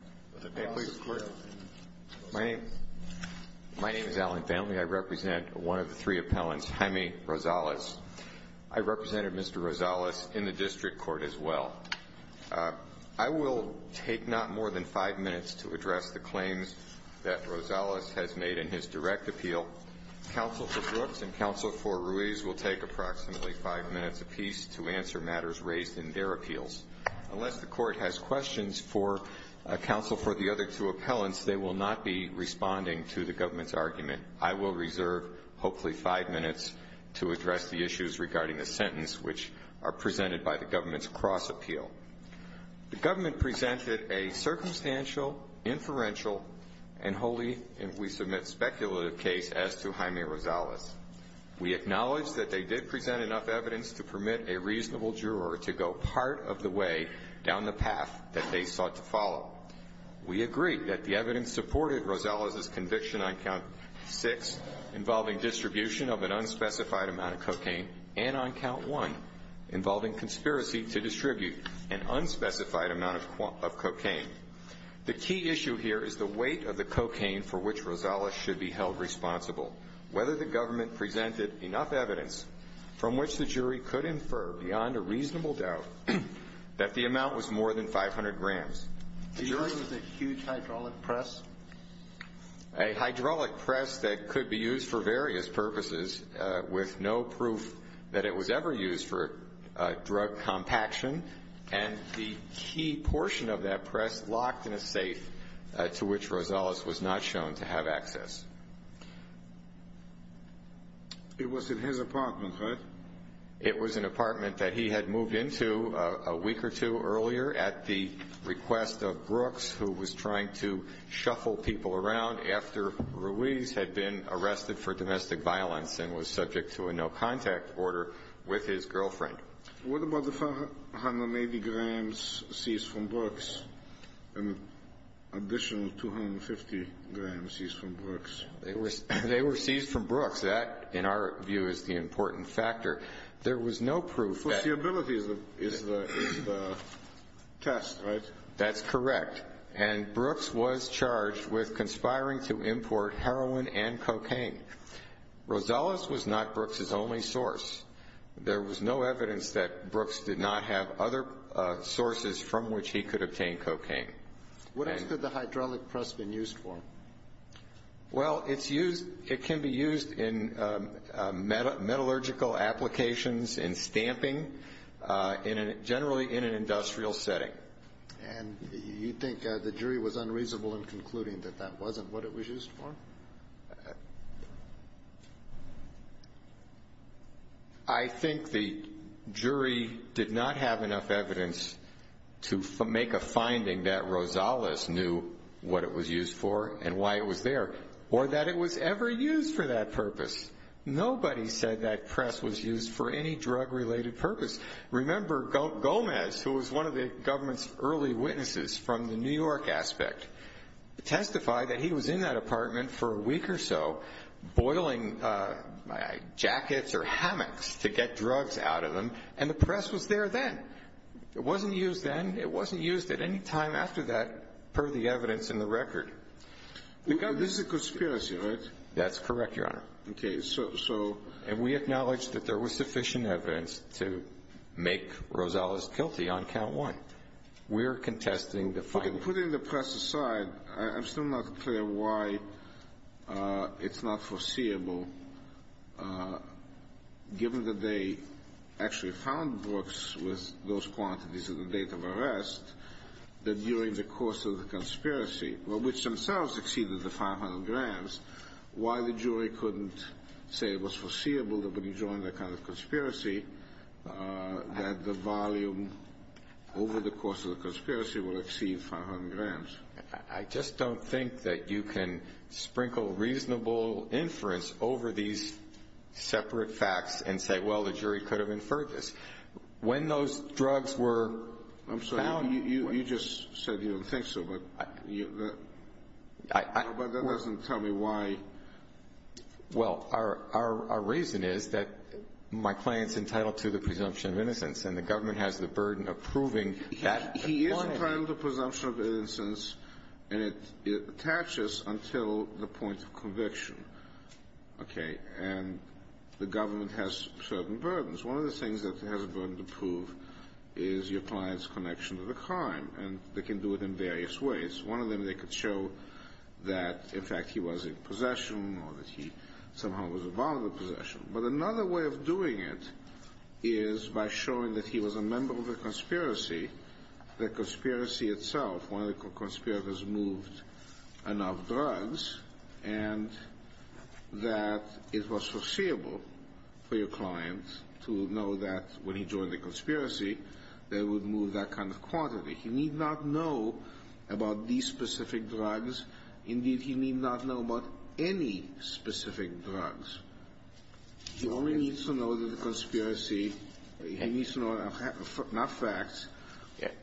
I represent one of the three appellants, Jaime Rosales. I represented Mr. Rosales in the district court as well. I will take not more than five minutes to address the claims that Rosales has made in his direct appeal. Counsel for Brooks and counsel for Ruiz will take approximately five minutes apiece to answer matters raised in their appeals. Unless the other two appellants, they will not be responding to the government's argument. I will reserve hopefully five minutes to address the issues regarding the sentence which are presented by the government's cross-appeal. The government presented a circumstantial, inferential, and wholly, if we submit, speculative case as to Jaime Rosales. We acknowledge that they did present enough evidence to permit a reasonable juror to go part of the way down the path that they sought to follow. We agree that the evidence supported Rosales' conviction on count six involving distribution of an unspecified amount of cocaine and on count one involving conspiracy to distribute an unspecified amount of cocaine. The key issue here is the weight of the cocaine for which Rosales should be held responsible. Whether the government presented enough evidence from which the jury could infer beyond a reasonable doubt that the amount was more than 500 grams. The jury was a huge hydraulic press? A hydraulic press that could be used for various purposes with no proof that it was ever used for drug compaction and the key portion of that press locked in a safe to which Rosales was not shown to have access. It was in his apartment, right? It was an apartment that he had moved into a week or two earlier at the request of Brooks, who was trying to shuffle people around after Ruiz had been arrested for domestic violence and was subject to a no-contact order with his girlfriend. What about the 580 grams seized from Brooks and an additional 250 grams seized from Brooks? They were seized from Brooks. That, in our view, is the important factor. There was no proof. So the ability is the test, right? That's correct. And Brooks was charged with conspiring to import heroin and cocaine. Rosales was not Brooks' only source. There was no evidence that Brooks did not have other sources from which he could obtain cocaine. What else could the hydraulic press have been used for? Well, it can be used in metallurgical applications, in stamping, generally in an industrial setting. And you think the jury was unreasonable in concluding that that wasn't what it was used for? I think the jury did not have enough evidence to make a finding that Rosales knew what it was used for and why it was there, or that it was ever used for that purpose. Nobody said that press was used for any drug-related purpose. Remember Gomez, who was one of the government's early witnesses from the New York aspect, testified that he was in that apartment for a week or so, boiling jackets or hammocks to get drugs out of them, and the press was there then. It wasn't used then. It wasn't used at any time after that, per the evidence in the record. This is a conspiracy, right? That's correct, Your Honor. Okay, so... And we acknowledge that there was sufficient evidence to make Rosales guilty on count one. We're contesting the finding. Okay, putting the press aside, I'm still not clear why it's not foreseeable, given that they actually found Brooks with those quantities at the date of the conspiracy, which themselves exceeded the 500 grams, why the jury couldn't say it was foreseeable that when you draw in that kind of conspiracy that the volume over the course of the conspiracy would exceed 500 grams? I just don't think that you can sprinkle reasonable inference over these separate facts and say, well, the jury could have inferred this. When those drugs were found... I'm sorry, you just said you don't think so, but that doesn't tell me why... Well, our reason is that my client's entitled to the presumption of innocence, and the government has the burden of proving that... He is entitled to presumption of innocence, and it attaches until the point of conviction. Okay? And the government has certain burdens. One of the things that has a burden to prove is your client's connection to the crime, and they can do it in various ways. One of them, they could show that, in fact, he was in possession or that he somehow was a bond of possession. But another way of doing it is by showing that he was a member of the conspiracy, the conspiracy itself, one of the conspirators moved enough drugs, and that it was foreseeable. For your client to know that, when he joined the conspiracy, they would move that kind of quantity. He need not know about these specific drugs. Indeed, he need not know about any specific drugs. He only needs to know that the conspiracy... He needs to know enough facts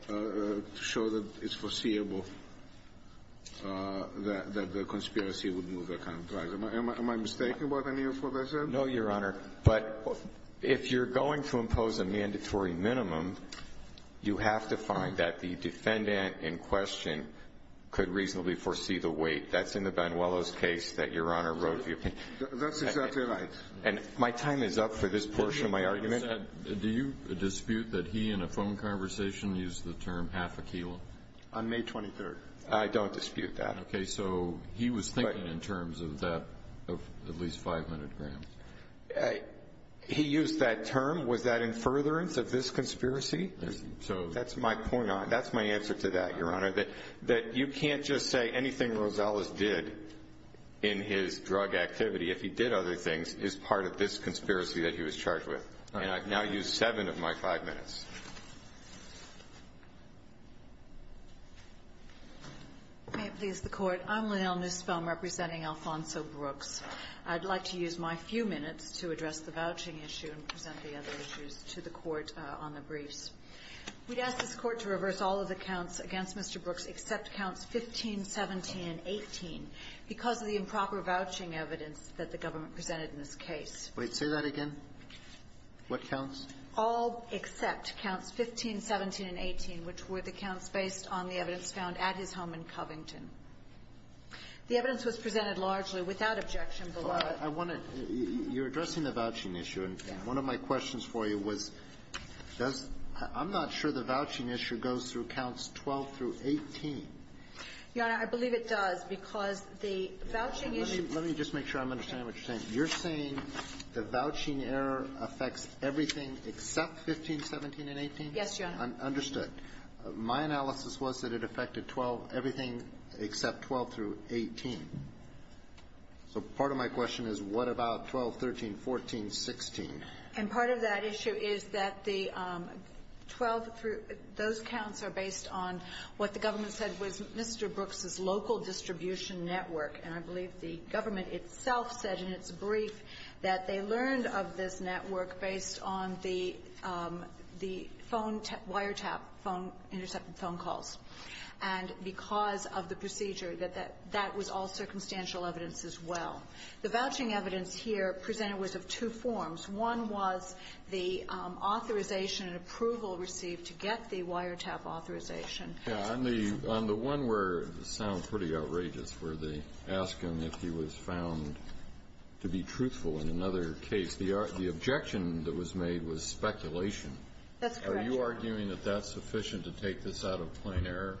to show that it's foreseeable that the conspiracy would move that kind of drugs. Am I mistaken about any of what I said? No, Your Honor. But if you're going to impose a mandatory minimum, you have to find that the defendant in question could reasonably foresee the weight. That's in the Banuelos case that Your Honor wrote. That's exactly right. And my time is up for this portion of my argument. Do you dispute that he, in a phone conversation, used the term half a kilo? On May 23rd. I don't dispute that. Okay, so he was thinking in terms of at least 500 grams. He used that term. Was that in furtherance of this conspiracy? That's my point. That's my answer to that, Your Honor. That you can't just say anything Rosales did in his drug activity, if he did other things, is part of this conspiracy that he was charged with. And I've now used seven of my five minutes. May it please the Court. I'm Lynell Nussbaum, representing Alfonso Brooks. I'd like to use my few minutes to address the vouching issue and present the other issues to the Court on the briefs. We'd ask this Court to reverse all of the counts against Mr. Brooks, except counts 15, 17, and 18, because of the improper vouching evidence that the government presented in this case. Wait. Say that again. What counts? All except counts 15, 17, and 18, which were the counts based on the evidence found at his home in Covington. The evidence was presented largely without objection. I want to you're addressing the vouching issue. And one of my questions for you was, does, I'm not sure the vouching issue goes through counts 12 through 18. Your Honor, I believe it does, because the vouching issue. Let me just make sure I'm understanding what you're saying. You're saying the vouching error affects everything except 15, 17, and 18? Yes, Your Honor. Understood. My analysis was that it affected 12, everything except 12 through 18. So part of my question is, what about 12, 13, 14, 16? And part of that issue is that the 12 through, those counts are based on what the government said was Mr. Brooks' local distribution network. And I believe the government itself said in its brief that they learned of this network based on the phone wire tap, phone, intercepted phone calls. And because of the procedure, that that was all One was the authorization and approval received to get the wire tap authorization. On the one where it sounds pretty outrageous, where they ask him if he was found to be truthful in another case, the objection that was made was speculation. That's correct. Are you arguing that that's sufficient to take this out of plain error?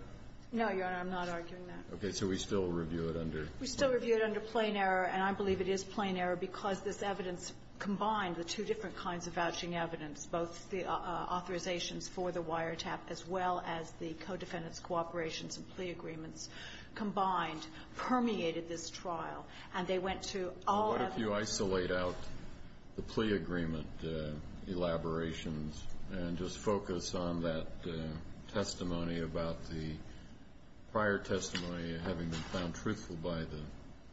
No, Your Honor, I'm not arguing that. Okay. So we still review it under? We still review it under plain error, and I believe it is plain error because this evidence combined, the two different kinds of vouching evidence, both the authorizations for the wire tap as well as the co-defendants' cooperations and plea agreements combined permeated this trial. And they went to all other What if you isolate out the plea agreement elaborations and just focus on that testimony about the prior testimony having been found truthful by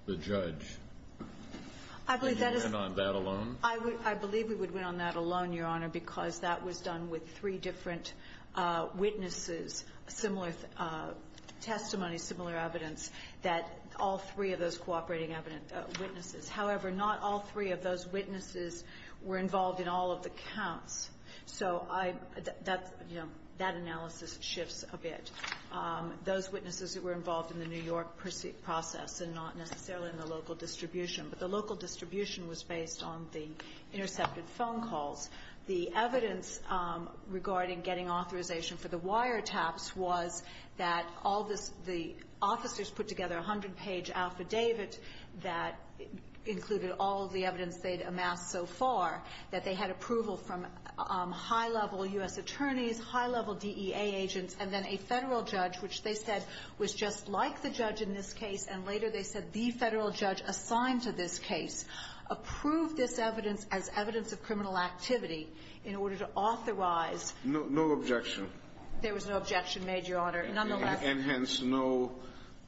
the judge? I believe that is Would you win on that alone? I believe we would win on that alone, Your Honor, because that was done with three different witnesses, similar testimony, similar evidence, that all three of those cooperating witnesses. However, not all three of those witnesses were involved in all of the counts. So that analysis shifts a bit. Those witnesses that were involved in the New York process and not necessarily in the local distribution, but the local distribution was based on the intercepted phone calls. The evidence regarding getting authorization for the wire taps was that all the officers put together a hundred-page affidavit that included all the evidence they'd amassed so far, that they had approval from high-level U.S. attorneys, high-level DEA agents, and then a Federal judge, which they said was just like the judge in this case, and later they said the Federal judge assigned to this case approved this evidence as evidence of criminal activity in order to authorize There was no objection made, Your Honor. And hence, no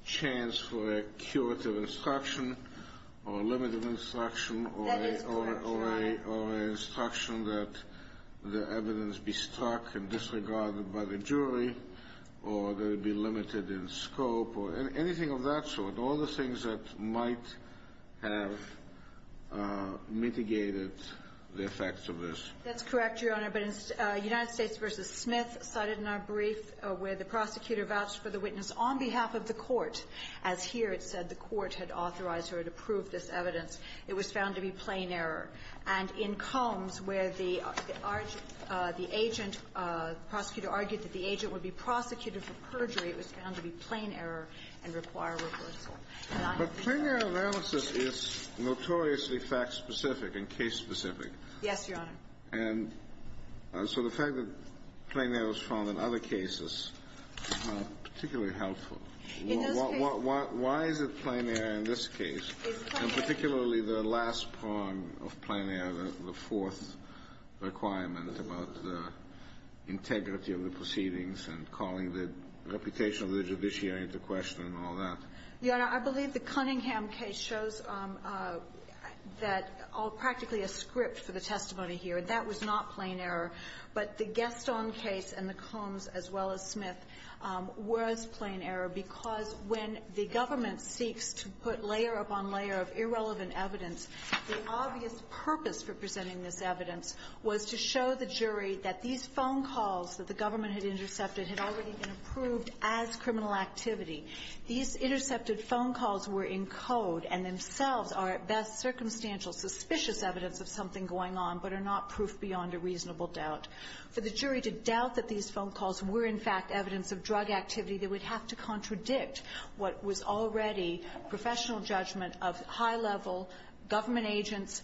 chance for a curative instruction or a limited instruction That is correct, Your Honor. or an instruction that the evidence be stuck and disregarded by the jury, or that it be limited in scope, or anything of that sort. All the things that might have mitigated the effects of this. That's correct, Your Honor. But in United States v. Smith, cited in our brief, where the prosecutor vouched for the witness on behalf of the court, as here it said the court had authorized or had approved this evidence, it was found to be plain error. And in Combs, where the agent, the prosecutor argued that the agent would be prosecuted for perjury, it was found to be plain error and require reversal. But plain error analysis is notoriously fact-specific and case-specific. Yes, Your Honor. And so the fact that plain error is found in other cases is not particularly helpful. In those cases Why is it plain error in this case? It's plain error And particularly the last prong of plain error, the fourth requirement about the integrity of the proceedings and calling the reputation of the judiciary into question and all that. Your Honor, I believe the Cunningham case shows that all practically a script for the testimony here. That was not plain error. But the Gaston case and the Combs as well as Smith was plain error because when the government seeks to put layer upon layer of irrelevant evidence, the obvious purpose for presenting this evidence was to show the jury that these phone calls that the government had intercepted had already been approved as criminal activity. These intercepted phone calls were in code and themselves are, at best, circumstantial, suspicious evidence of something going on, but are not proof beyond a reasonable doubt. For the jury to doubt that these phone calls were, in fact, evidence of drug activity, they would have to contradict what was already professional judgment of high-level government agents,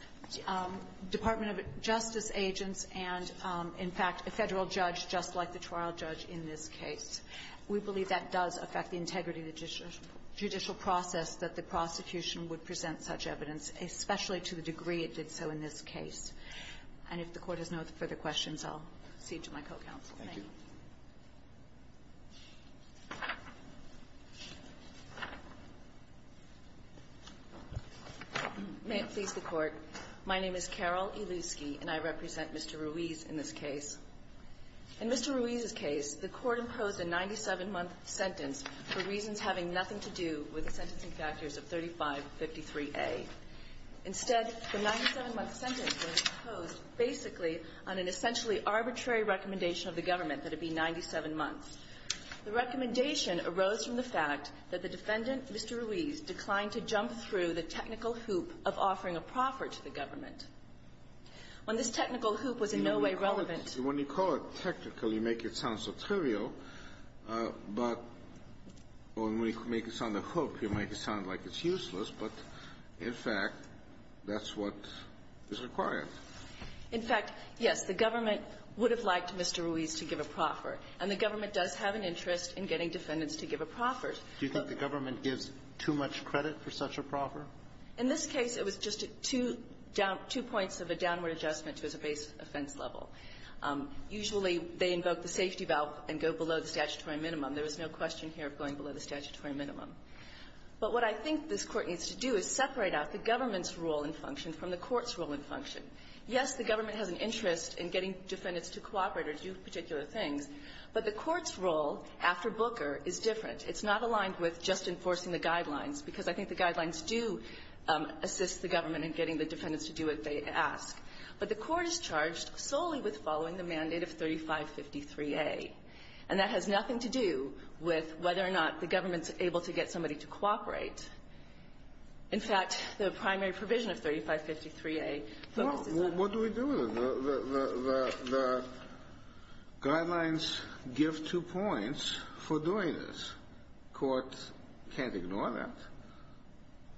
Department of Justice agents, and, in fact, a Federal judge just like the trial judge in this case. We believe that does affect the integrity of the judicial process, that the prosecution would present such evidence, especially to the degree it did so in this case. And if the Court has no further questions, I'll proceed to my co-counsel. Thank you. May it please the Court. My name is Carol Iluski, and I represent Mr. Ruiz in this case. In Mr. Ruiz's case, the Court imposed a 97-month sentence for reasons having nothing to do with the sentencing factors of 3553A. Instead, the 97-month sentence was imposed basically on an essentially arbitrary recommendation of the government that it be 97 months. The recommendation arose from the fact that the defendant, Mr. Ruiz, declined to jump through the technical hoop of offering a proffer to the government. When this technical hoop was in no way relevant — When you call it technical, you make it sound so trivial. But when we make it sound a hoop, you make it sound like it's useless. But, in fact, that's what is required. In fact, yes. The government would have liked Mr. Ruiz to give a proffer. And the government does have an interest in getting defendants to give a proffer. Do you think the government gives too much credit for such a proffer? In this case, it was just two points of a downward adjustment to his base offense level. Usually, they invoke the safety valve and go below the statutory minimum. There was no question here of going below the statutory minimum. But what I think this Court needs to do is separate out the government's role and function from the court's role and function. Yes, the government has an interest in getting defendants to cooperate or do particular things, but the court's role after Booker is different. It's not aligned with just enforcing the guidelines, because I think the guidelines do assist the government in getting the defendants to do what they ask. But the court is charged solely with following the mandate of 3553A. And that has nothing to do with whether or not the government's able to get somebody to cooperate. In fact, the primary provision of 3553A focuses on that. Well, what do we do with it? The guidelines give two points for doing this. Courts can't ignore that.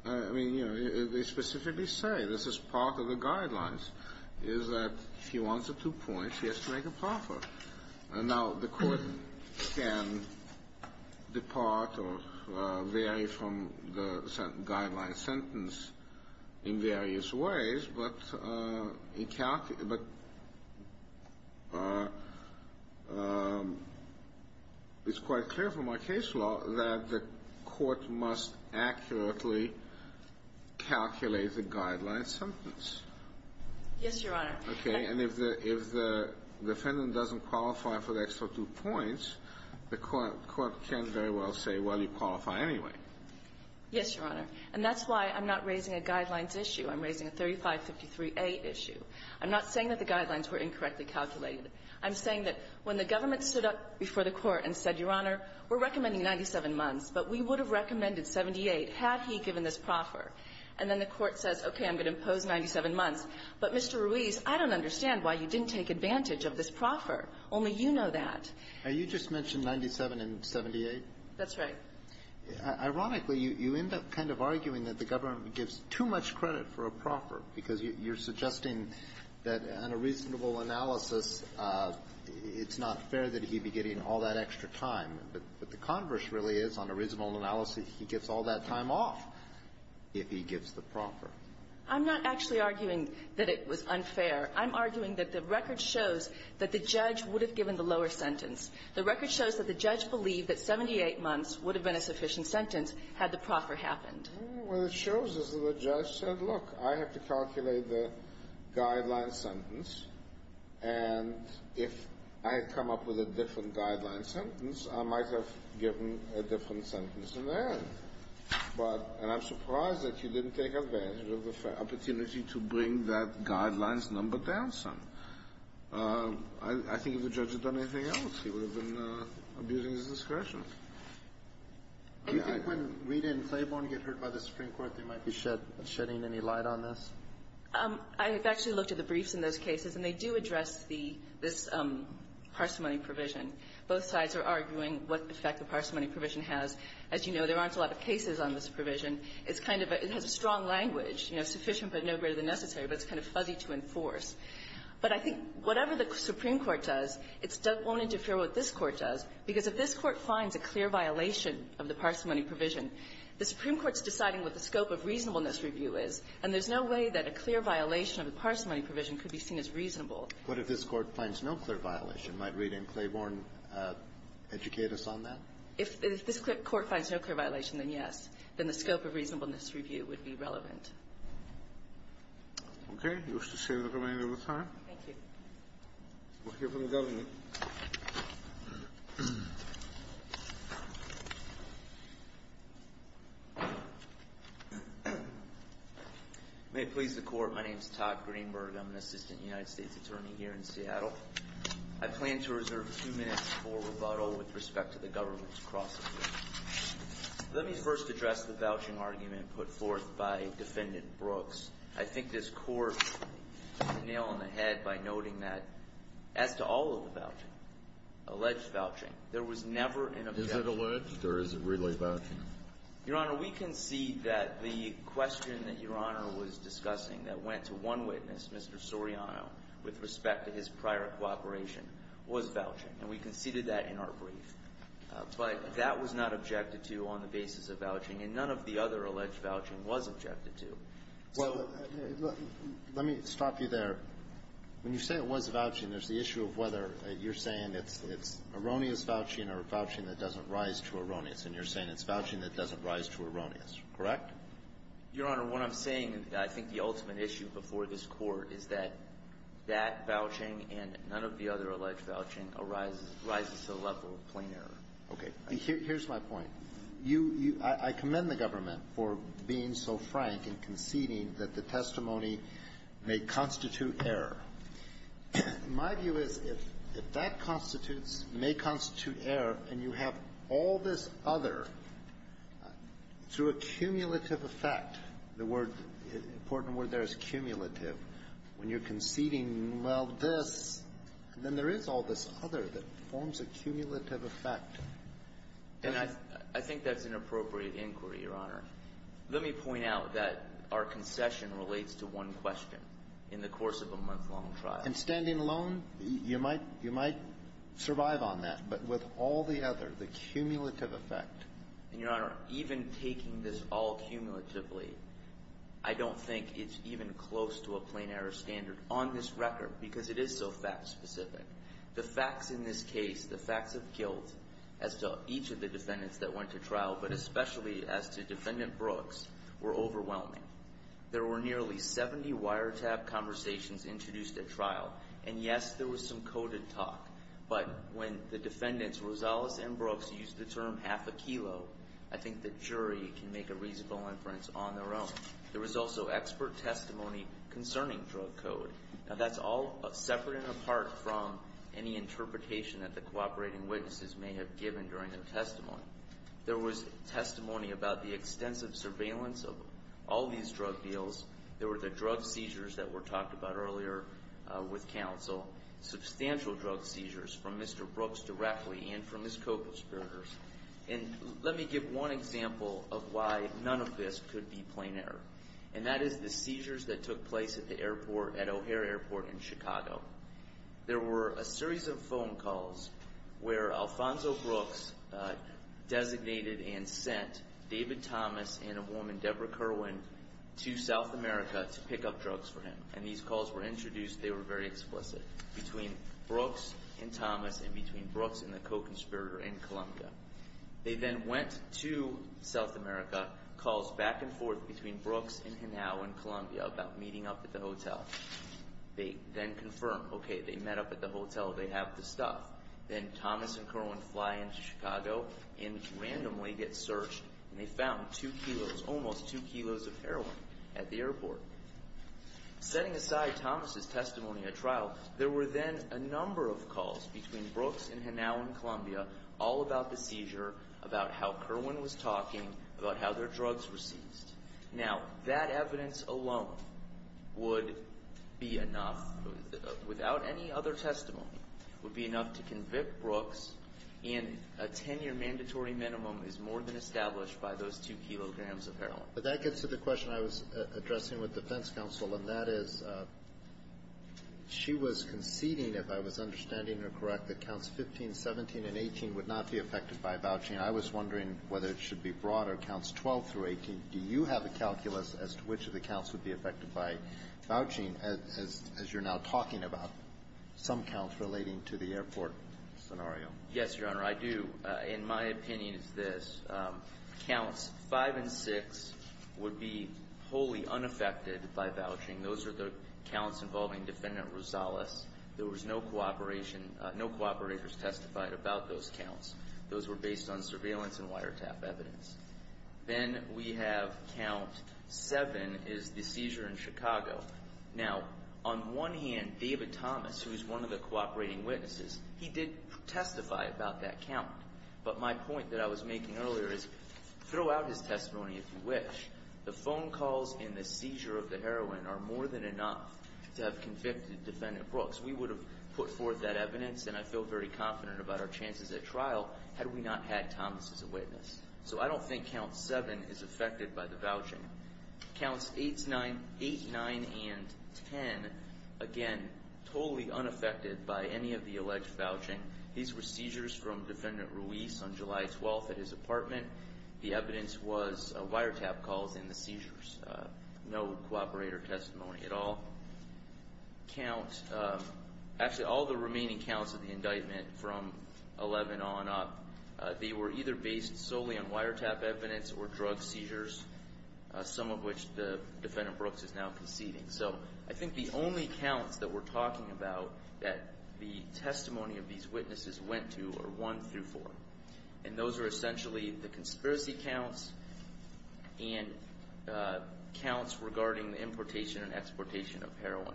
And what happens is that if she wants the two points, she has to make a proffer. And now the court can depart or vary from the guideline sentence in various ways, but it's quite clear from our case law that the court must accurately calculate the guideline sentence. Yes, Your Honor. Okay. And if the defendant doesn't qualify for the extra two points, the court can very well say, well, you qualify anyway. Yes, Your Honor. And that's why I'm not raising a guidelines issue. I'm raising a 3553A issue. I'm not saying that the guidelines were incorrectly calculated. I'm saying that when the government stood up before the court and said, Your Honor, we're recommending 97 months, but we would have recommended 78 had he given this proffer. And then the court says, okay, I'm going to impose 97 months. But, Mr. Ruiz, I don't understand why you didn't take advantage of this proffer. Only you know that. Now, you just mentioned 97 and 78. That's right. Ironically, you end up kind of arguing that the government gives too much credit for a proffer because you're suggesting that on a reasonable analysis, it's not fair that he be getting all that extra time. But the converse really is, on a reasonable analysis, he gets all that time off. If he gives the proffer. I'm not actually arguing that it was unfair. I'm arguing that the record shows that the judge would have given the lower sentence. The record shows that the judge believed that 78 months would have been a sufficient sentence had the proffer happened. Well, it shows us that the judge said, look, I have to calculate the guideline sentence. And if I had come up with a different guideline sentence, I might have given a different sentence in there. And I'm surprised that you didn't take advantage of the opportunity to bring that guidelines number down some. I think if the judge had done anything else, he would have been abusing his discretion. Do you think when Rita and Claiborne get heard by the Supreme Court, they might be shedding any light on this? I have actually looked at the briefs in those cases, and they do address this parsimony provision. Both sides are arguing what effect the parsimony provision has. As you know, there aren't a lot of cases on this provision. It's kind of a strong language, you know, sufficient but no greater than necessary, but it's kind of fuzzy to enforce. But I think whatever the Supreme Court does, it won't interfere what this Court does, because if this Court finds a clear violation of the parsimony provision, the Supreme Court's deciding what the scope of reasonableness review is, and there's no way that a clear violation of the parsimony provision could be seen as reasonable. What if this Court finds no clear violation? Might Rita and Claiborne educate us on that? If this Court finds no clear violation, then yes. Then the scope of reasonableness review would be relevant. Okay. You wish to say the remainder of the time? Thank you. We'll hear from the government. May it please the Court. My name is Todd Greenberg. I'm an assistant United States attorney here in Seattle. I plan to reserve two minutes for rebuttal with respect to the government's cross-examination. Let me first address the vouching argument put forth by Defendant Brooks. I think this Court can nail on the head by noting that, as to all of the vouching, alleged vouching, there was never an objection. Is it alleged or is it really vouching? Your Honor, we concede that the question that Your Honor was discussing that went to one witness, Mr. Soriano, with respect to his prior cooperation, was vouching. And we conceded that in our brief. But that was not objected to on the basis of vouching. And none of the other alleged vouching was objected to. Well, let me stop you there. When you say it was vouching, there's the issue of whether you're saying it's erroneous vouching or vouching that doesn't rise to erroneous. And you're saying it's vouching that doesn't rise to erroneous, correct? Your Honor, what I'm saying, and I think the ultimate issue before this Court, is that that vouching and none of the other alleged vouching arises to the level of plain error. Okay. Here's my point. I commend the government for being so frank in conceding that the testimony may constitute error. My view is if that constitutes, may constitute error, and you have all this other, through a cumulative effect, the word, important word there is cumulative, when you're conceding, well, this, then there is all this other that forms a cumulative effect. And I think that's an appropriate inquiry, Your Honor. Let me point out that our concession relates to one question in the course of a month-long trial. And standing alone, you might survive on that. But with all the other, the cumulative effect. And, Your Honor, even taking this all cumulatively, I don't think it's even close to a plain error standard on this record, because it is so fact-specific. The facts in this case, the facts of guilt as to each of the defendants that went to trial, but especially as to Defendant Brooks, were overwhelming. And yes, there was some coded talk, but when the defendants, Rosales and Brooks, used the term, half a kilo, I think the jury can make a reasonable inference on their own. There was also expert testimony concerning drug code. Now, that's all separate and apart from any interpretation that the cooperating witnesses may have given during their testimony. There was testimony about the extensive surveillance of all these drug deals. There were the drug seizures that were talked about earlier with counsel. Substantial drug seizures from Mr. Brooks directly and from his co-conspirators. And let me give one example of why none of this could be plain error. And that is the seizures that took place at the airport, at O'Hare Airport in Chicago. There were a series of phone calls where Alfonso Brooks designated and sent David Thomas and a woman, Deborah Kerwin, to South America to pick up drugs for him. And these calls were introduced. They were very explicit. Between Brooks and Thomas and between Brooks and the co-conspirator in Columbia. They then went to South America. Calls back and forth between Brooks and Hinao in Columbia about meeting up at the hotel. They then confirmed, okay, they met up at the hotel. They have the stuff. Then Thomas and Kerwin fly into Chicago and randomly get searched and they found two kilos, almost two kilos of heroin at the airport. Setting aside Thomas' testimony at trial, there were then a number of calls between Brooks and Hinao in Columbia all about the seizure, about how Kerwin was talking, about how their drugs were seized. Now, that evidence alone would be enough, without any other testimony, would be enough to convict Brooks, and a 10-year mandatory minimum is more than established by those two kilograms of heroin. But that gets to the question I was addressing with defense counsel, and that is, she was conceding, if I was understanding her correct, that counts 15, 17, and 18 would not be affected by vouching. I was wondering whether it should be broader, counts 12 through 18. Do you have a calculus as to which of the counts would be affected by vouching as you're now talking about, some counts relating to the airport scenario? Yes, Your Honor, I do. In my opinion, it's this. Counts 5 and 6 would be wholly unaffected by vouching. Those are the counts involving Defendant Rosales. There was no cooperation, no cooperators testified about those counts. Those were based on surveillance and wiretap evidence. Then we have count 7 is the seizure in Chicago. Now, on one hand, David Thomas, who is one of the cooperating witnesses, he did testify about that count. But my point that I was making earlier is, throw out his testimony if you wish. The phone calls and the seizure of the heroin are more than enough to have convicted Defendant Brooks. We would have put forth that evidence, and I feel very confident about our chances at trial had we not had Thomas as a witness. So I don't think count 7 is affected by the vouching. Counts 8, 9, and 10, again, totally unaffected by any of the alleged vouching. These were seizures from Defendant Ruiz on July 12th at his apartment. The evidence was wiretap calls and the seizures. No cooperator testimony at all. Count, actually all the remaining counts of the indictment from 11 on up, they were either based solely on wiretap evidence or drug seizures, some of which the Defendant Brooks is now conceding. So I think the only counts that we're talking about that the testimony of these witnesses went to are 1 through 4. And those are essentially the conspiracy counts and counts regarding the importation and exportation of heroin.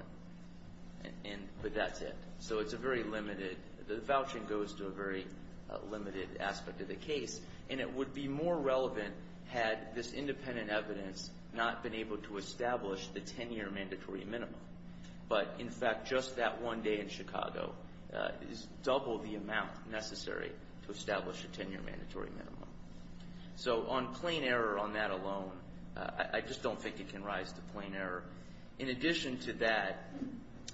But that's it. So it's a very limited, the vouching goes to a very limited aspect of the case. And it would be more relevant had this independent evidence not been able to establish the 10-year mandatory minimum. But, in fact, just that one day in Chicago is double the amount necessary to establish a 10-year mandatory minimum. So on plain error on that alone, I just don't think it can rise to plain error. In addition to that,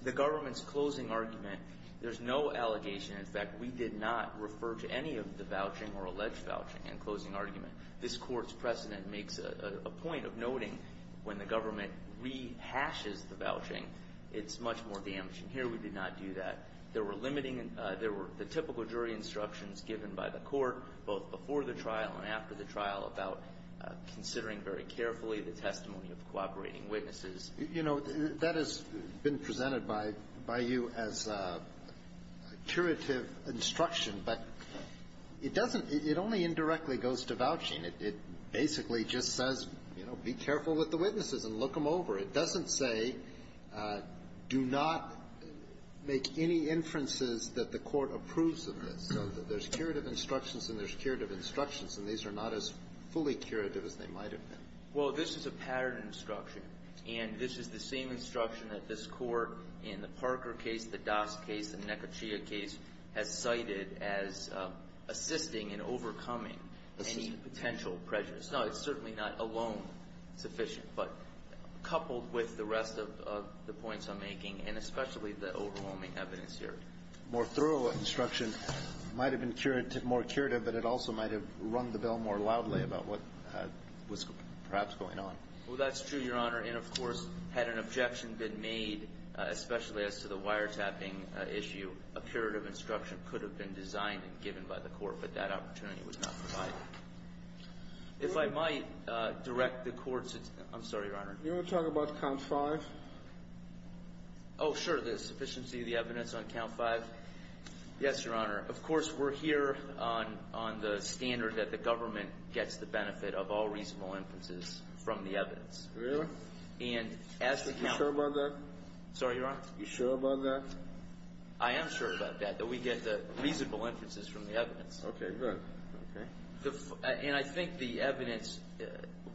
the government's closing argument, there's no allegation, and, in fact, we did not refer to any of the vouching or alleged vouching in closing argument. This Court's precedent makes a point of noting when the government rehashes the vouching, it's much more damaging. Here we did not do that. There were limiting, there were the typical jury instructions given by the Court both before the trial and after the trial about considering very carefully the testimony of cooperating witnesses. You know, that has been presented by you as a curative instruction. But it doesn't, it only indirectly goes to vouching. It basically just says, you know, be careful with the witnesses and look them over. It doesn't say, do not make any inferences that the Court approves of this. So there's curative instructions and there's curative instructions. And these are not as fully curative as they might have been. Well, this is a pattern instruction. And this is the same instruction that this Court in the Parker case, the Das case, the Nekachia case has cited as assisting in overcoming any potential prejudice. Now, it's certainly not alone sufficient, but coupled with the rest of the points I'm making and especially the overwhelming evidence here. More thorough instruction might have been more curative, but it also might have rung the bell more loudly about what was perhaps going on. Well, that's true, Your Honor. And, of course, had an objection been made, especially as to the wiretapping issue, a curative instruction could have been designed and given by the Court, but that opportunity was not provided. If I might direct the Court's, I'm sorry, Your Honor. Do you want to talk about Count 5? Oh, sure. The sufficiency of the evidence on Count 5? Yes, Your Honor. Of course, we're here on the standard that the government gets the benefit of all reasonable inferences from the evidence. Really? And as to Count 5. You sure about that? Sorry, Your Honor? You sure about that? I am sure about that, that we get the reasonable inferences from the evidence. Okay, good. And I think the evidence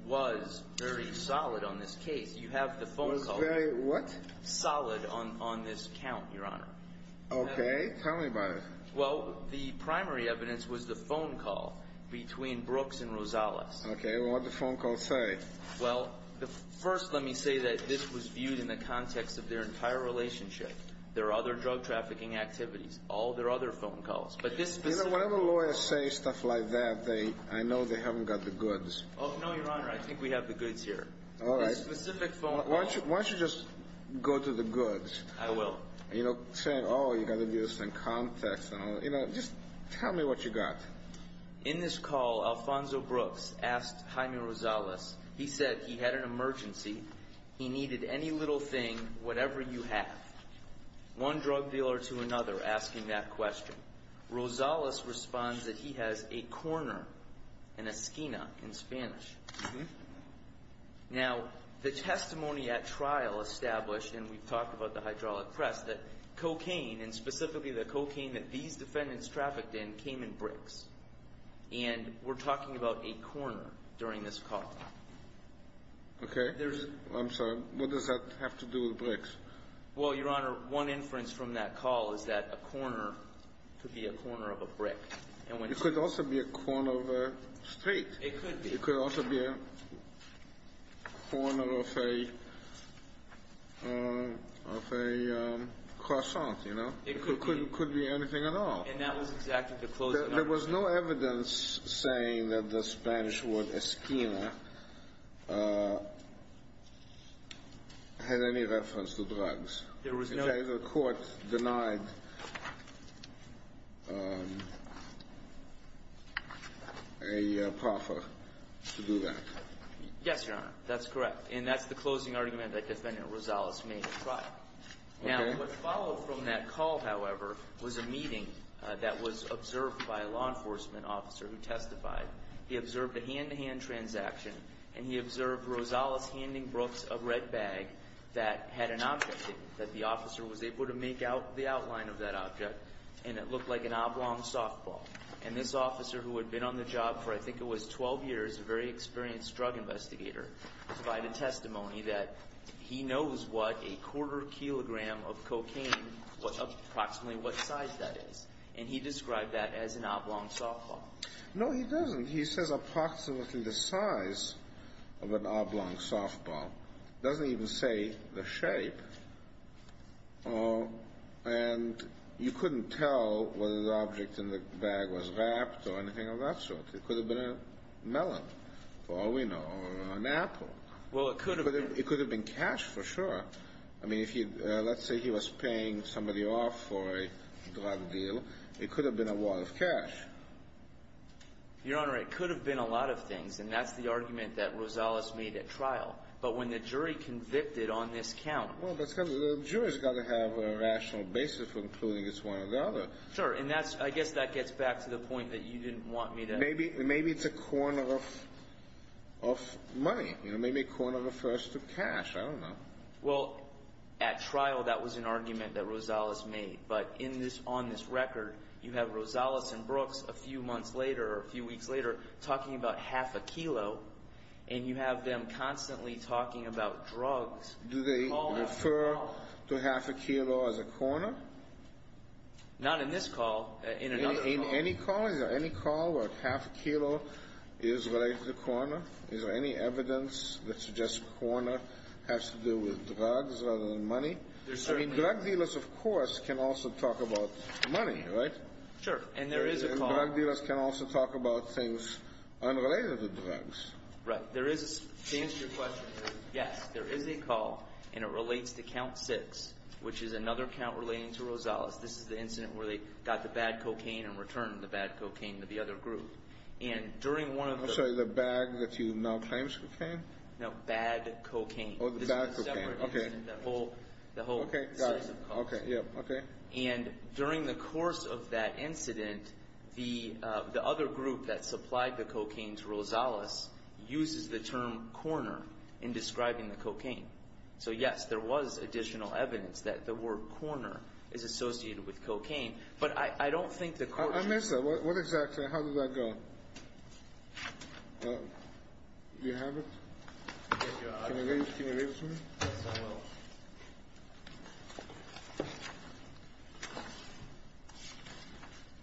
was very solid on this case. You have the phone call. Was very what? Solid on this count, Your Honor. Okay. Tell me about it. Well, the primary evidence was the phone call between Brooks and Rosales. Okay. What did the phone call say? Well, first let me say that this was viewed in the context of their entire relationship, their other drug trafficking activities, all their other phone calls. But this specific... You know, whenever lawyers say stuff like that, I know they haven't got the goods. Oh, no, Your Honor. I think we have the goods here. All right. This specific phone call... Why don't you just go to the goods? I will. You know, saying, oh, you got to do this in context. You know, just tell me what you got. In this call, Alfonso Brooks asked Jaime Rosales. He said he had an emergency. He needed any little thing, whatever you have. One drug dealer to another asking that question. Rosales responds that he has a corner, an esquina in Spanish. Now, the testimony at trial established, and we've talked about the hydraulic press, that cocaine, and specifically the cocaine that these defendants trafficked in, came in bricks. And we're talking about a corner during this call. Okay. There's... I'm sorry. What does that have to do with bricks? Well, Your Honor, one inference from that call is that a corner could be a corner of a brick. It could also be a corner of a straight. It could be. It could also be a corner of a croissant, you know. It could be anything at all. And that was exactly the closing argument. There was no evidence saying that the Spanish word esquina had any reference to drugs. There was no... Yes, Your Honor. That's correct. And that's the closing argument that Defendant Rosales made at trial. Okay. Now, what followed from that call, however, was a meeting that was observed by a law enforcement officer who testified. He observed a hand-to-hand transaction, and he observed Rosales handing Brooks a red bag that had an object in it, that the officer was able to make out the outline of that object, and it looked like an oblong softball. And this officer, who had been on the job for I think it was 12 years, a very experienced drug investigator, provided testimony that he knows what a quarter kilogram of cocaine, approximately what size that is. And he described that as an oblong softball. No, he doesn't. He says approximately the size of an oblong softball. He doesn't even say the shape. And you couldn't tell whether the object in the bag was wrapped or anything of that sort. It could have been a melon, for all we know, or an apple. Well, it could have been. It could have been cash for sure. I mean, let's say he was paying somebody off for a drug deal. It could have been a wallet of cash. Your Honor, it could have been a lot of things, and that's the argument that Rosales made at trial. But when the jury convicted on this count… Well, that's because the jury's got to have a rational basis for including it's one or the other. Sure, and I guess that gets back to the point that you didn't want me to… Maybe it's a corner of money. Maybe a corner refers to cash. I don't know. Well, at trial, that was an argument that Rosales made. But on this record, you have Rosales and Brooks a few months later or a few weeks later talking about half a kilo. And you have them constantly talking about drugs. Do they refer to half a kilo as a corner? Not in this call. In any call? Is there any call where half a kilo is related to the corner? Is there any evidence that suggests corner has to do with drugs rather than money? Drug dealers, of course, can also talk about money, right? Sure, and there is a call. Drug dealers can also talk about things unrelated to drugs. Right. To answer your question, yes, there is a call, and it relates to count six, which is another count relating to Rosales. This is the incident where they got the bad cocaine and returned the bad cocaine to the other group. And during one of the… I'm sorry, the bag that you now claim is cocaine? No, bad cocaine. Oh, the bad cocaine. This is a separate incident, the whole series of calls. Okay, got it. Okay, yeah, okay. And during the course of that incident, the other group that supplied the cocaine to Rosales uses the term corner in describing the cocaine. So, yes, there was additional evidence that the word corner is associated with cocaine. But I don't think the… I missed that. What exactly? How did that go? Do you have it? Can you read it to me? Yes, I will.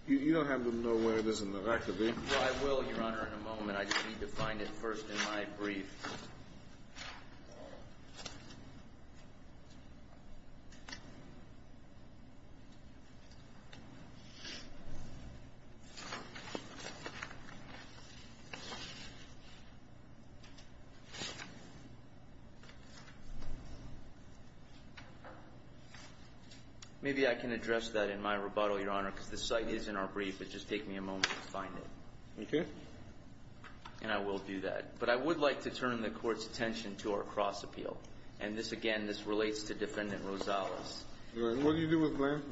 You don't have to know where it is in the record, do you? I will, Your Honor, in a moment. I just need to find it first in my brief. Maybe I can address that in my rebuttal, Your Honor, because the site is in our brief, but just take me a moment to find it. Okay. And I will do that. But I would like to turn the Court's attention to our cross-appeal. And this, again, this relates to Defendant Rosales. What do you do with Blanton?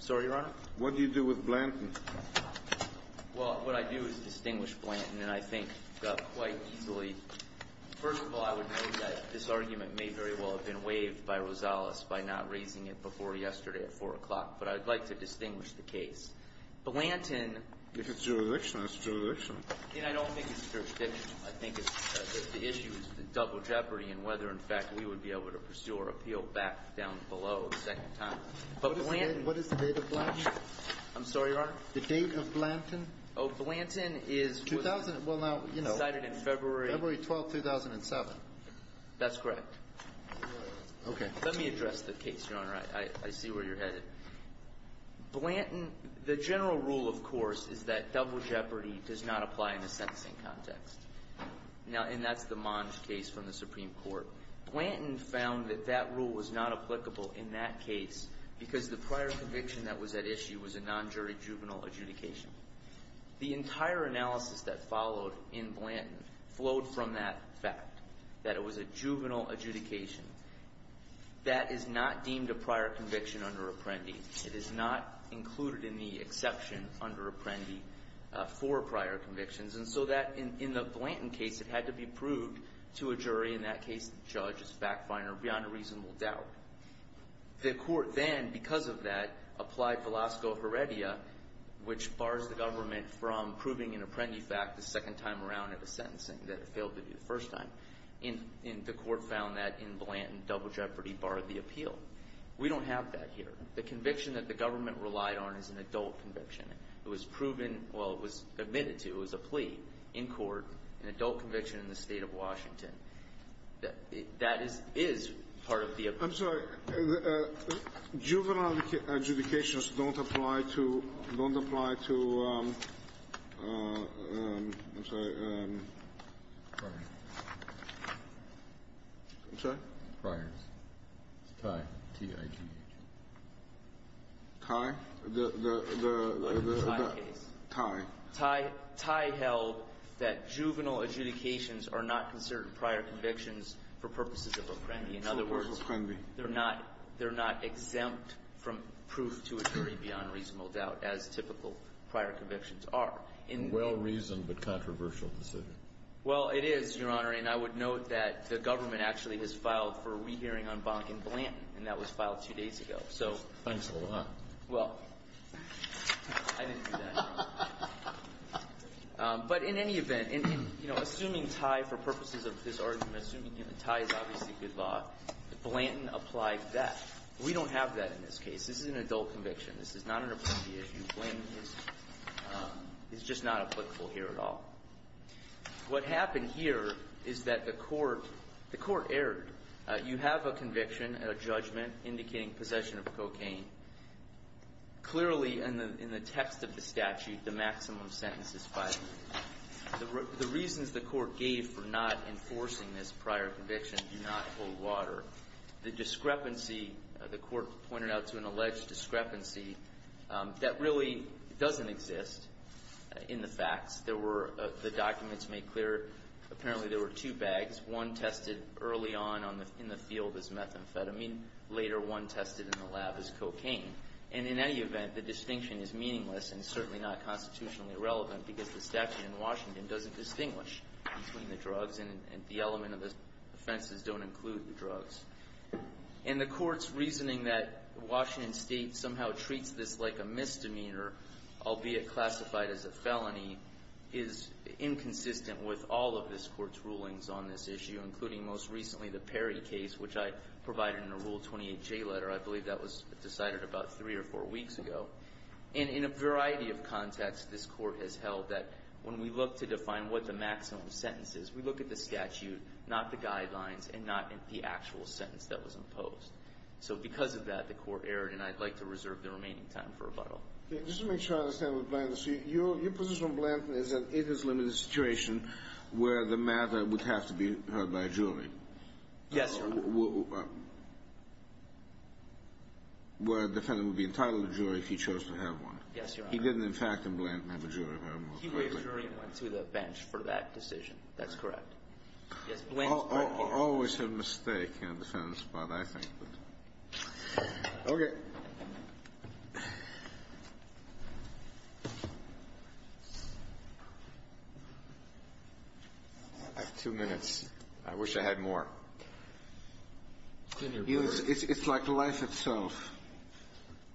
Sorry, Your Honor? What do you do with Blanton? Well, what I do is distinguish Blanton. And then I think quite easily… First of all, I would note that this argument may very well have been waived by Rosales by not raising it before yesterday at 4 o'clock. But I would like to distinguish the case. Blanton… If it's jurisdiction, it's jurisdiction. Again, I don't think it's jurisdiction. I think the issue is the double jeopardy and whether, in fact, we would be able to pursue or appeal back down below the second time. But Blanton… What is the date of Blanton? I'm sorry, Your Honor? The date of Blanton? Oh, Blanton is… Well, now, you know… Cited in February… February 12, 2007. That's correct. Okay. Let me address the case, Your Honor. I see where you're headed. Blanton… The general rule, of course, is that double jeopardy does not apply in a sentencing context. Now, and that's the Monge case from the Supreme Court. Blanton found that that rule was not applicable in that case because the prior conviction that was at issue was a non-jury juvenile adjudication. The entire analysis that followed in Blanton flowed from that fact, that it was a juvenile adjudication. That is not deemed a prior conviction under Apprendi. It is not included in the exception under Apprendi for prior convictions. And so that, in the Blanton case, it had to be proved to a jury. In that case, the judge is backfired beyond a reasonable doubt. The court then, because of that, applied Velasco Heredia, which bars the government from proving an Apprendi fact the second time around at a sentencing that it failed to do the first time. And the court found that in Blanton, double jeopardy barred the appeal. We don't have that here. The conviction that the government relied on is an adult conviction. It was proven… Well, it was admitted to. It was a plea in court, an adult conviction in the state of Washington. That is part of the… I'm sorry. Juvenile adjudications don't apply to – don't apply to – I'm sorry. I'm sorry? Priors. It's Ty. T-I-G-H. Ty? The – the – the… The Ty case. Ty. Ty held that juvenile adjudications are not considered prior convictions for purposes of Apprendi. In other words, they're not – they're not exempt from proof to a jury beyond reasonable doubt, as typical prior convictions are. Well-reasoned but controversial decision. Well, it is, Your Honor. And I would note that the government actually has filed for a rehearing on Bonk and Blanton. And that was filed two days ago. Thanks a lot. Well, I didn't do that. But in any event, you know, assuming Ty for purposes of this argument, assuming Ty is obviously good law, Blanton applied that. We don't have that in this case. This is an adult conviction. This is not an Apprendi issue. Blanton is just not applicable here at all. What happened here is that the court – the court erred. You have a conviction and a judgment indicating possession of cocaine. Clearly, in the text of the statute, the maximum sentence is five years. The reasons the court gave for not enforcing this prior conviction do not hold water. The discrepancy – the court pointed out to an alleged discrepancy that really doesn't exist in the facts. There were – the documents make clear apparently there were two bags. One tested early on in the field as methamphetamine. Later, one tested in the lab as cocaine. And in any event, the distinction is meaningless and certainly not constitutionally relevant because the statute in Washington doesn't distinguish between the drugs and the element of the offenses don't include the drugs. And the court's reasoning that Washington State somehow treats this like a misdemeanor, albeit classified as a felony, is inconsistent with all of this court's rulings on this issue, including most recently the Perry case, which I provided in a Rule 28J letter. I believe that was decided about three or four weeks ago. And in a variety of contexts, this court has held that when we look to define what the maximum sentence is, we look at the statute, not the guidelines, and not the actual sentence that was imposed. So because of that, the court erred, and I'd like to reserve the remaining time for rebuttal. Just to make sure I understand what Blanton – Your position on Blanton is that it is limited to a situation where the matter would have to be heard by a jury. Yes, Your Honor. Where a defendant would be entitled to a jury if he chose to have one. Yes, Your Honor. He didn't, in fact, in Blanton have a jury. He raised a jury and went to the bench for that decision. That's correct. Always a mistake on the defendant's part, I think. Okay. I have two minutes. I wish I had more. It's like life itself.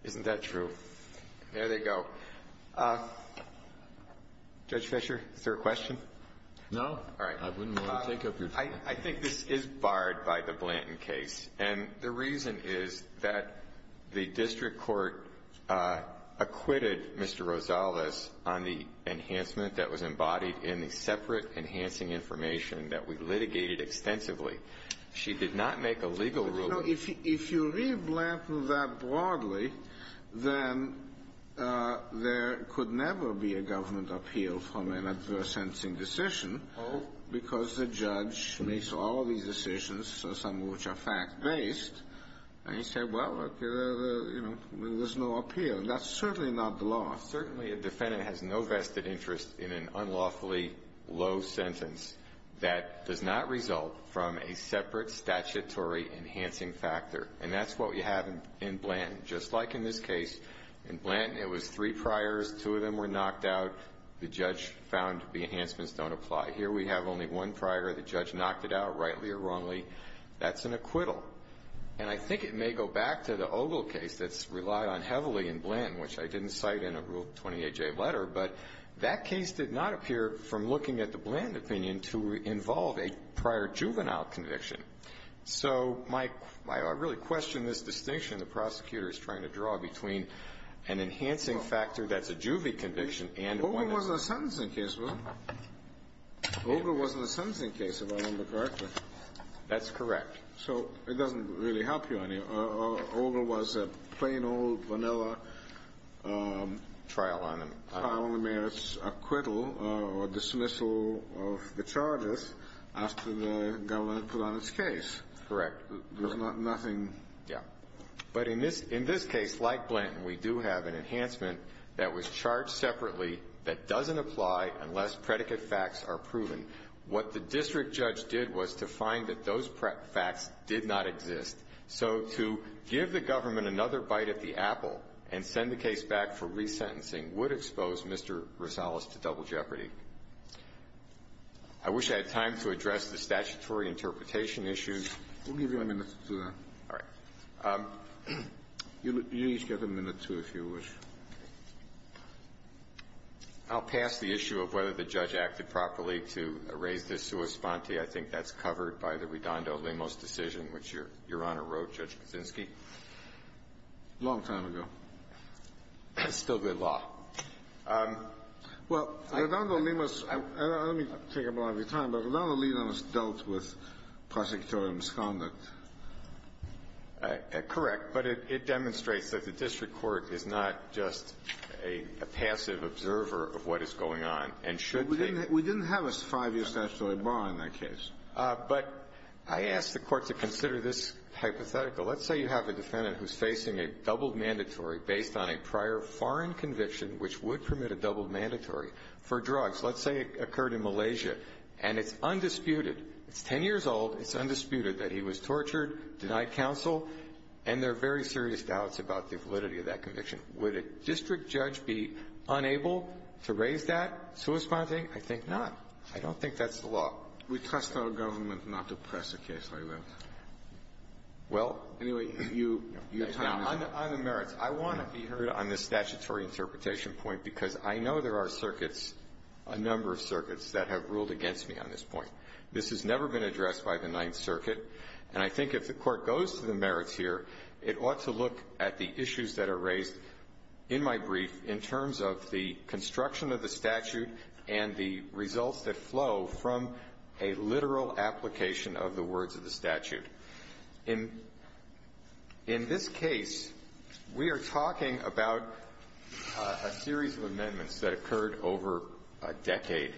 Isn't that true? There they go. Judge Fischer, is there a question? No. All right. I wouldn't want to take up your time. I think this is barred by the Blanton case. And the reason is that the district court acquitted Mr. Rosales on the enhancement that was embodied in the separate enhancing information that we litigated extensively. She did not make a legal ruling. No, if you read Blanton that broadly, then there could never be a government appeal from an adverse-sensing decision because the judge makes all these decisions, some of which are fact-based. And you say, well, okay, there's no appeal. That's certainly not the law. Certainly a defendant has no vested interest in an unlawfully low sentence that does not result from a separate statutory enhancing factor. And that's what we have in Blanton. Just like in this case, in Blanton it was three priors. Two of them were knocked out. The judge found the enhancements don't apply. Here we have only one prior. The judge knocked it out, rightly or wrongly. That's an acquittal. And I think it may go back to the Ogle case that's relied on heavily in Blanton, which I didn't cite in a Rule 28J letter. But that case did not appear, from looking at the Blanton opinion, to involve a prior juvenile conviction. So I really question this distinction the prosecutor is trying to draw between an enhancing factor that's a juvie conviction and one that's not. Ogle wasn't a sentencing case, was he? Ogle wasn't a sentencing case, if I remember correctly. That's correct. So it doesn't really help you any. Ogle was a plain old vanilla trial on the mayor's acquittal or dismissal of the charges after the government put on its case. Correct. There was nothing. Yeah. But in this case, like Blanton, we do have an enhancement that was charged separately that doesn't apply unless predicate facts are proven. What the district judge did was to find that those facts did not exist. So to give the government another bite at the apple and send the case back for resentencing would expose Mr. Rosales to double jeopardy. I wish I had time to address the statutory interpretation issues. We'll give you a minute to do that. All right. You each get a minute or two, if you wish. I'll pass the issue of whether the judge acted properly to raise this sua sponte. I think that's covered by the Redondo-Limos decision, which Your Honor wrote, Judge Kuczynski. A long time ago. It's still good law. Well, Redondo-Limos, and let me take up a lot of your time, but Redondo-Limos dealt with prosecutorial misconduct. Correct. But it demonstrates that the district court is not just a passive observer of what is going on and should take it. We didn't have a five-year statutory bar in that case. But I asked the court to consider this hypothetical. Let's say you have a defendant who's facing a doubled mandatory based on a prior foreign conviction which would permit a doubled mandatory for drugs. Let's say it occurred in Malaysia, and it's undisputed, it's 10 years old, it's undisputed that he was tortured, denied counsel, and there are very serious doubts about the validity of that conviction. Would a district judge be unable to raise that sua sponte? I think not. I don't think that's the law. We trust our government not to press a case like that. Well, anyway, you're time is up. Now, on the merits, I want to be heard on the statutory interpretation point because I know there are circuits, a number of circuits, that have ruled against me on this point. This has never been addressed by the Ninth Circuit. And I think if the court goes to the merits here, it ought to look at the issues that are raised in my brief in terms of the construction of the statute and the results that flow from a literal application of the words of the statute. In this case, we are talking about a series of amendments that occurred over a decade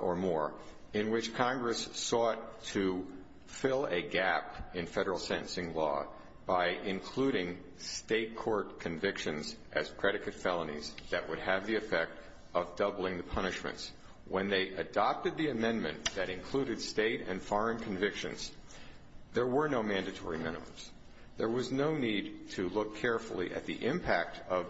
or more in which Congress sought to fill a gap in federal sentencing law by including state court convictions as predicate felonies that would have the effect of doubling the punishments. When they adopted the amendment that included state and foreign convictions, there were no mandatory minimums. There was no need to look carefully at the impact of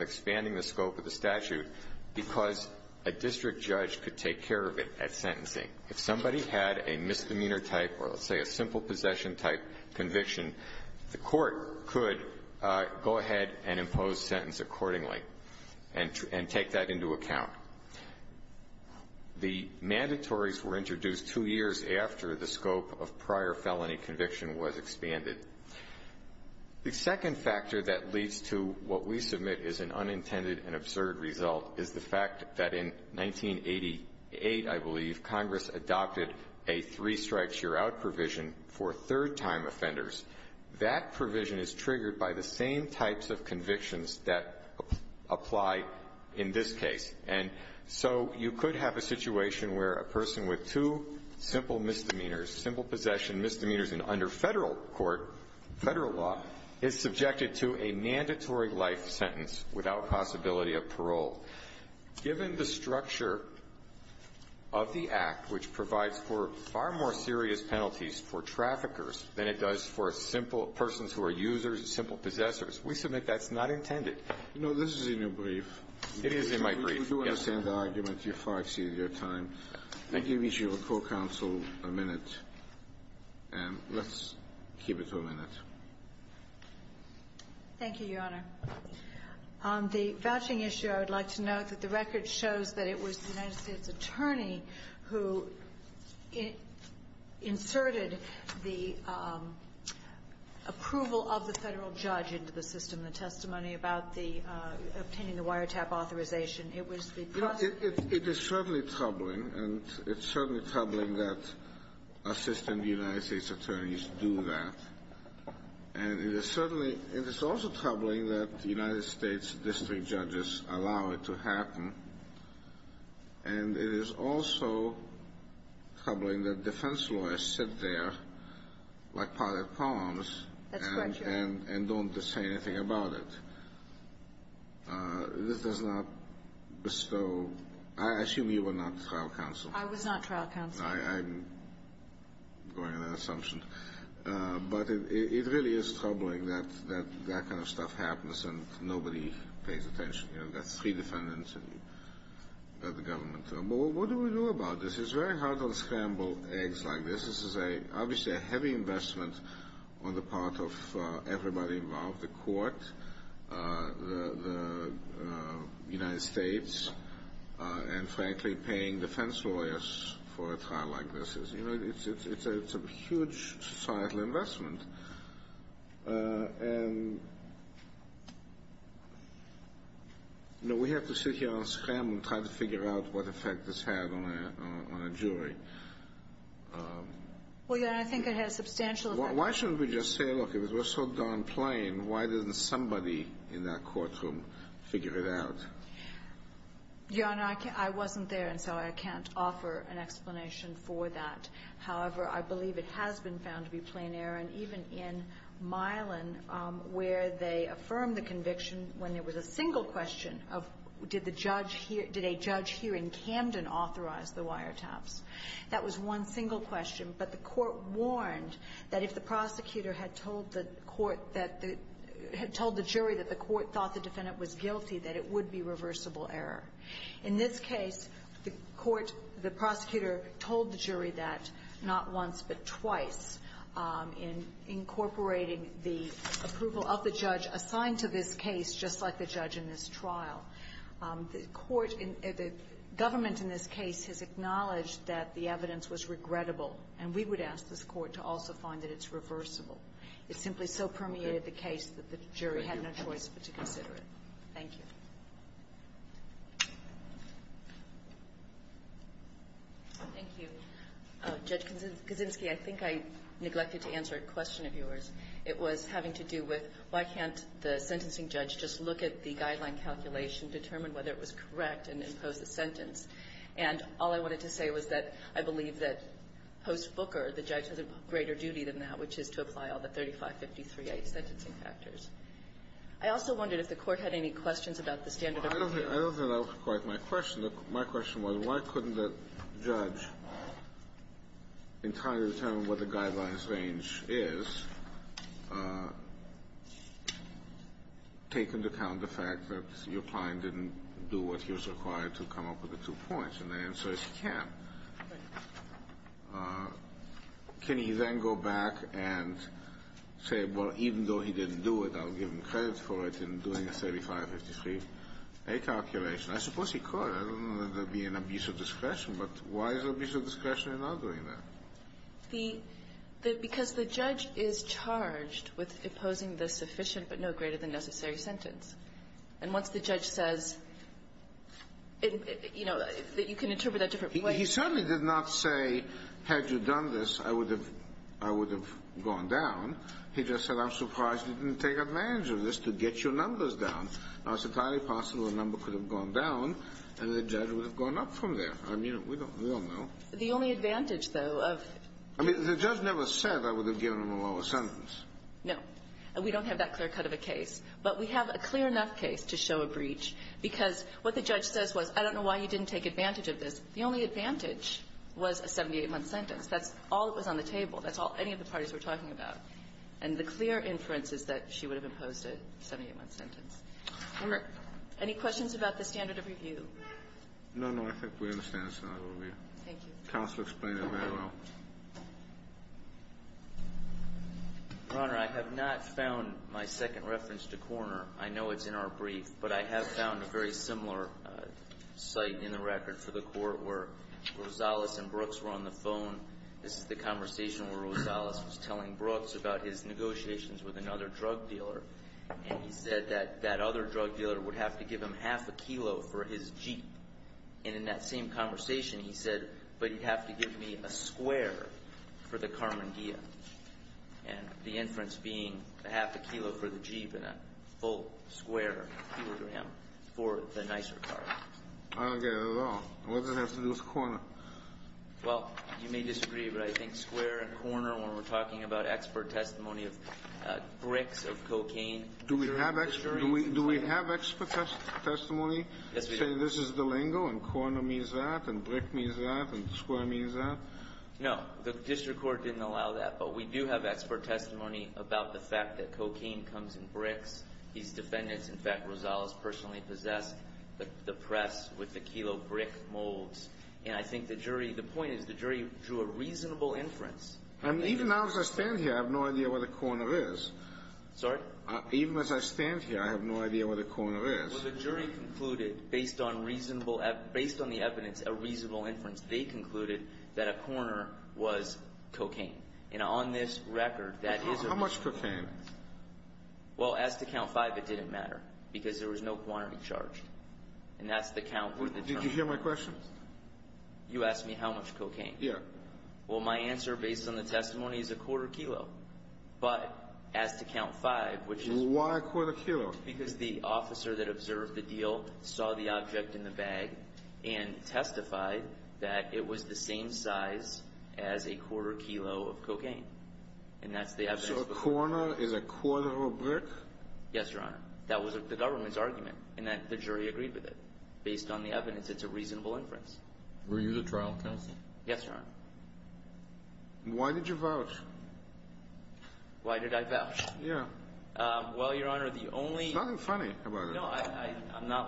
expanding the scope of the statute because a district judge could take care of it at sentencing. If somebody had a misdemeanor type or let's say a simple possession type conviction, the court could go ahead and impose sentence accordingly and take that into account. The mandatories were introduced two years after the scope of prior felony conviction was expanded. The second factor that leads to what we submit is an unintended and absurd result is the fact that in 1988, I believe, Congress adopted a three strikes you're out provision for third time offenders. That provision is triggered by the same types of convictions that apply in this case. So you could have a situation where a person with two simple misdemeanors, simple possession misdemeanors under Federal court Federal law, is subjected to a mandatory life sentence without possibility of parole. Given the structure of the Act which provides for far more serious penalties for traffickers than it does for simple persons who are users, simple possessors, we submit that's not intended. It is in my brief. We do understand the argument. Thank you. Let me give each of your co-counsel a minute. Let's keep it for a minute. Thank you, Your Honor. On the vouching issue, I would like to note that the record shows that it was the United States Attorney who inserted the approval of the Federal Judge into the system, the testimony about obtaining the wiretap authorization. It was the prosecutor. It is certainly troubling and it's certainly troubling that Assistant United States Attorneys do that. And it is certainly it is also troubling that the United States District Judges allow it to happen and it is also troubling that defense lawyers sit there like potted palms and don't say anything about it. This does not bestow I assume you were not trial counsel. I was not trial counsel. I'm going on an assumption. But it really is troubling that that kind of stuff happens and nobody pays attention. You've got three defendants and you've got the government. What do we do about this? It's very hard to scramble eggs like this. This is obviously a heavy investment on the part of everybody involved, the court, the United States, and frankly paying defense lawyers for a trial like this. It's a huge societal investment. We have to sit here and scramble and try to figure out what effect this had on a jury. I think it has substantial effect. Why shouldn't we just say look, if it was so darn plain, why didn't somebody in that courtroom figure it out? Your Honor, I wasn't there and so I can't offer an explanation for that. However, I believe it has been found to be plain error and even in Milan where they affirmed the conviction when there was a single question of did a judge here in Camden authorize the wiretaps? That was one single question, but the court warned that if the prosecutor had told the jury that the court thought the defendant was guilty, that it would be reversible error. In this case, the prosecutor told the jury that not once, but twice in incorporating the approval of the judge assigned to this case just like the judge in this trial. The government in this case has acknowledged that the evidence was regrettable and we would ask this court to also find that it's reversible. It simply so permeated the case that the jury had no choice but to consider it. Thank you. Thank you. Judge Kaczynski, I think I neglected to answer a question of yours. It was having to do with why can't the sentencing judge just look at the guideline calculation, determine whether it was correct and impose the sentence and all I wanted to say was that I believe that post-Booker the judge has a greater duty than that which is to apply all the 3553A sentencing factors. I also wondered if the court had any questions about the standard of review. I don't think that was quite my question. My question was why couldn't the judge entirely determine what the guidelines range is take into account the fact that your client didn't do what he was required to come up with two points and the answer is he can't. Can he then go back and say, well even though he didn't do it, I'll give him credit for it in doing the 3553A calculation. I suppose he could. I don't know that there would be an abuse of discretion but why is there abuse of discretion in not doing that? Because the judge is charged with imposing the sufficient but no greater than necessary sentence and once the judge says you know you can interpret it a different way. He certainly did not say had you done this I would have gone down. He just said I'm surprised you didn't take advantage of this to get your numbers down. Now it's entirely possible a number could have gone down and the judge would have gone up from there. I mean we don't know. The only advantage though of The judge never said I would have given him a lower sentence. No. We don't have that clear cut of a case but we have a clear enough case to show a breach because what the judge says was I don't know why you didn't take advantage of this. The only advantage was a 78-month sentence. That's all that was on the table. That's all any of the parties were talking about. And the clear inference is that she would have imposed a 78-month sentence. Any questions about the standard of review? No, no. I think we understand the standard of review. Thank you. Counselor explained it very well. Your Honor, I have not found my second reference to Korner. I know it's in our brief but I have found a very similar site in the record for the court where Rosales and Brooks were on the phone. This is the conversation where Rosales was telling Brooks about his negotiations with another drug dealer and he said that that other drug dealer would have to give him half a kilo for his Jeep and in that same conversation he said but he'd have to give me a square for the Carmen Dia and the inference being half a kilo for the Jeep and a full square for the nicer car. I don't get it at all. What does it have to do with Korner? Well, you may disagree but I think Korner when we're talking about expert testimony of bricks, of cocaine. Do we have expert testimony saying this is the lingo and Korner means that and brick means that and square means that? No, the district court didn't allow that but we do have expert testimony about the fact that cocaine comes in bricks. These defendants, in fact, Rosales personally possessed the press with the kilo brick molds and I think the jury the point is the jury drew a reasonable inference. And even now as I stand here I have no idea where the Korner is. Sorry? Even as I stand here I have no idea where the Korner is. Well, the jury concluded based on reasonable based on the evidence a reasonable inference they concluded that a Korner was cocaine. And on this record that is a... How much cocaine? Well, as to count five it didn't matter because there was no quantity charged and that's the count with the term. Did you hear my question? You asked me how much cocaine? Well, my answer based on the testimony is a quarter kilo but as to count five which is... Why a quarter kilo? Because the officer that observed the deal saw the object in the bag and testified that it was the same size as a quarter kilo of cocaine and that's the evidence. So a Korner is a quarter of a brick? Yes, Your Honor. That was the government's argument and the jury agreed with it based on the evidence it's a reasonable inference. Were you the trial counsel? Yes, Your Honor. Why did you vouch? Why did I vouch? Yeah. Well, Your Honor, the only... There's nothing funny about it. No, I'm not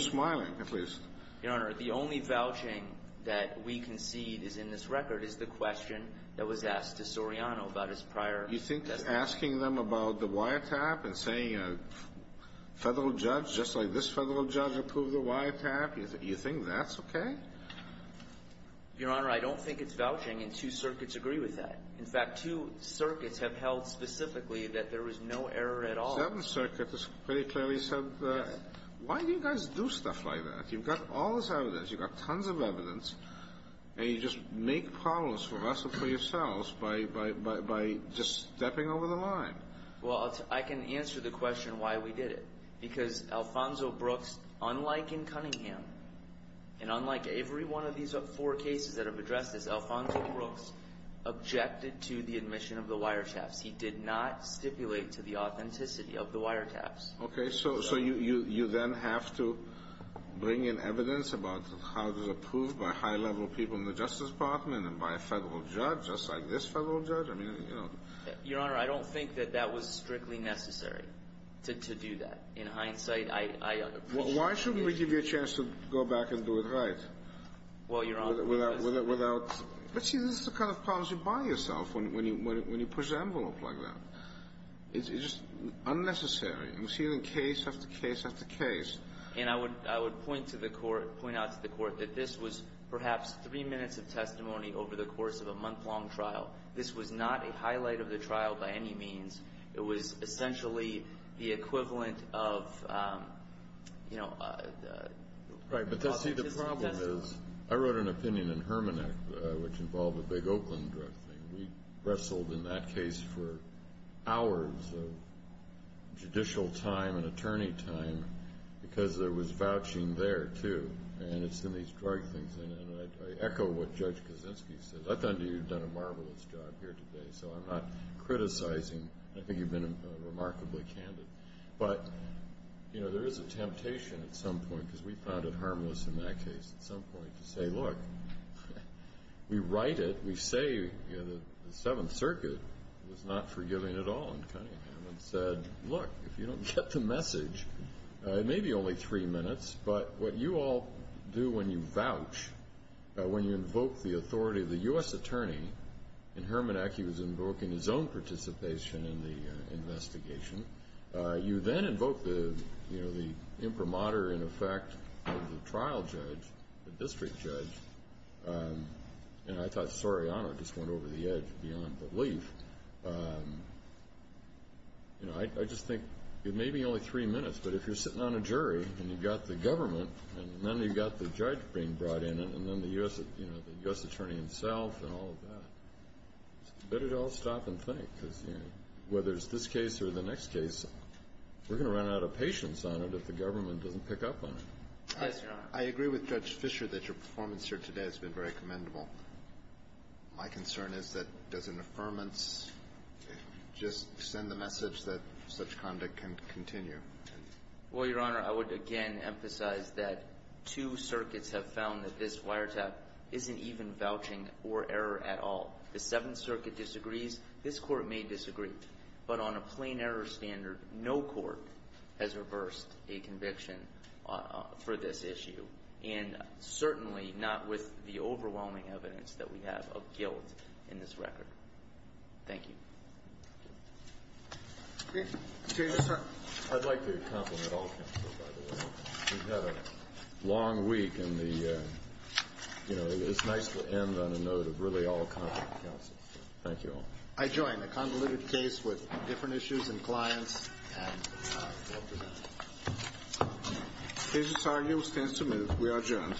smiling at least. Your Honor, the only vouching that we concede is in this record is the question that was asked to Soriano about his prior testimony. You think asking them about the wiretap and saying a federal judge just like this federal judge approved the wiretap you think that's okay? Your Honor, I don't think it's vouching and two circuits agree with that. In fact, two circuits have held specifically that there was no error at all. Seven circuits very clearly said why do you guys do stuff like that? You've got all this evidence. You've got tons of evidence and you just make problems for us and for yourselves by just stepping over the line. Well, I can answer the question why we did it because Alfonso Brooks unlike in Cunningham and unlike every one of these four cases that have addressed this, Alfonso Brooks objected to the admission of the wiretaps. He did not stipulate to the authenticity of the you then have to bring in evidence about how it was approved by high level people in the Justice Department and by a federal judge just like this federal judge. Your Honor, I don't think that that was strictly necessary to do that. In hindsight, I appreciate Why shouldn't we give you a chance to go back and do it right? Well, Your Honor, because See, this is the kind of problems you buy yourself when you push the envelope like that. It's just unnecessary. We see it in case after case after case and I would point to the court, point out to the court that this was perhaps three minutes of testimony over the course of a month long trial. This was not a highlight of the trial by any means. It was essentially the equivalent of you know Right, but see the problem is I wrote an opinion in Hermann Act which involved a big Oakland drug thing. We wrestled in that case for hours of judicial time and attorney time because there was vouching there too and it's in these drug things and I echo what Judge Kaczynski said I thought you'd done a marvelous job here today so I'm not criticizing I think you've been remarkably candid but there is a temptation at some point because we found it harmless in that case at some point to say look we write it, we say the Seventh Circuit was not forgiving at all in Cunningham and said look if you don't get the message it may be only three minutes but what you all do when you vouch when you invoke the authority of the U.S. Attorney in Hermann Act he was invoking his own participation in the investigation you then invoke the you know the imprimatur in effect of the trial judge the district judge and I thought Soriano just went over the edge beyond belief I just think it may be only three minutes but if you're sitting on a jury and you've got the government and then you've got the judge being brought in and then the U.S. Attorney himself and all of that better to all stop and think whether it's this case or the next case we're going to run out of patience on it if the government doesn't pick up on it I agree with Judge Fisher that your performance here today has been very my concern is that does an affirmance just send the message that such conduct can continue well your honor I would again emphasize that two circuits have found that this wiretap isn't even vouching or error at all the seventh circuit disagrees this court may disagree but on a plain error standard no court has reversed a conviction for this issue and certainly not with the overwhelming evidence that we have of guilt in this record thank you I'd like to compliment all counsel we've had a long week and the it's nice to end on a note of really all confident counsel I join the convoluted case with different issues and clients and we'll prevent it cases are you'll stand to move we are adjourned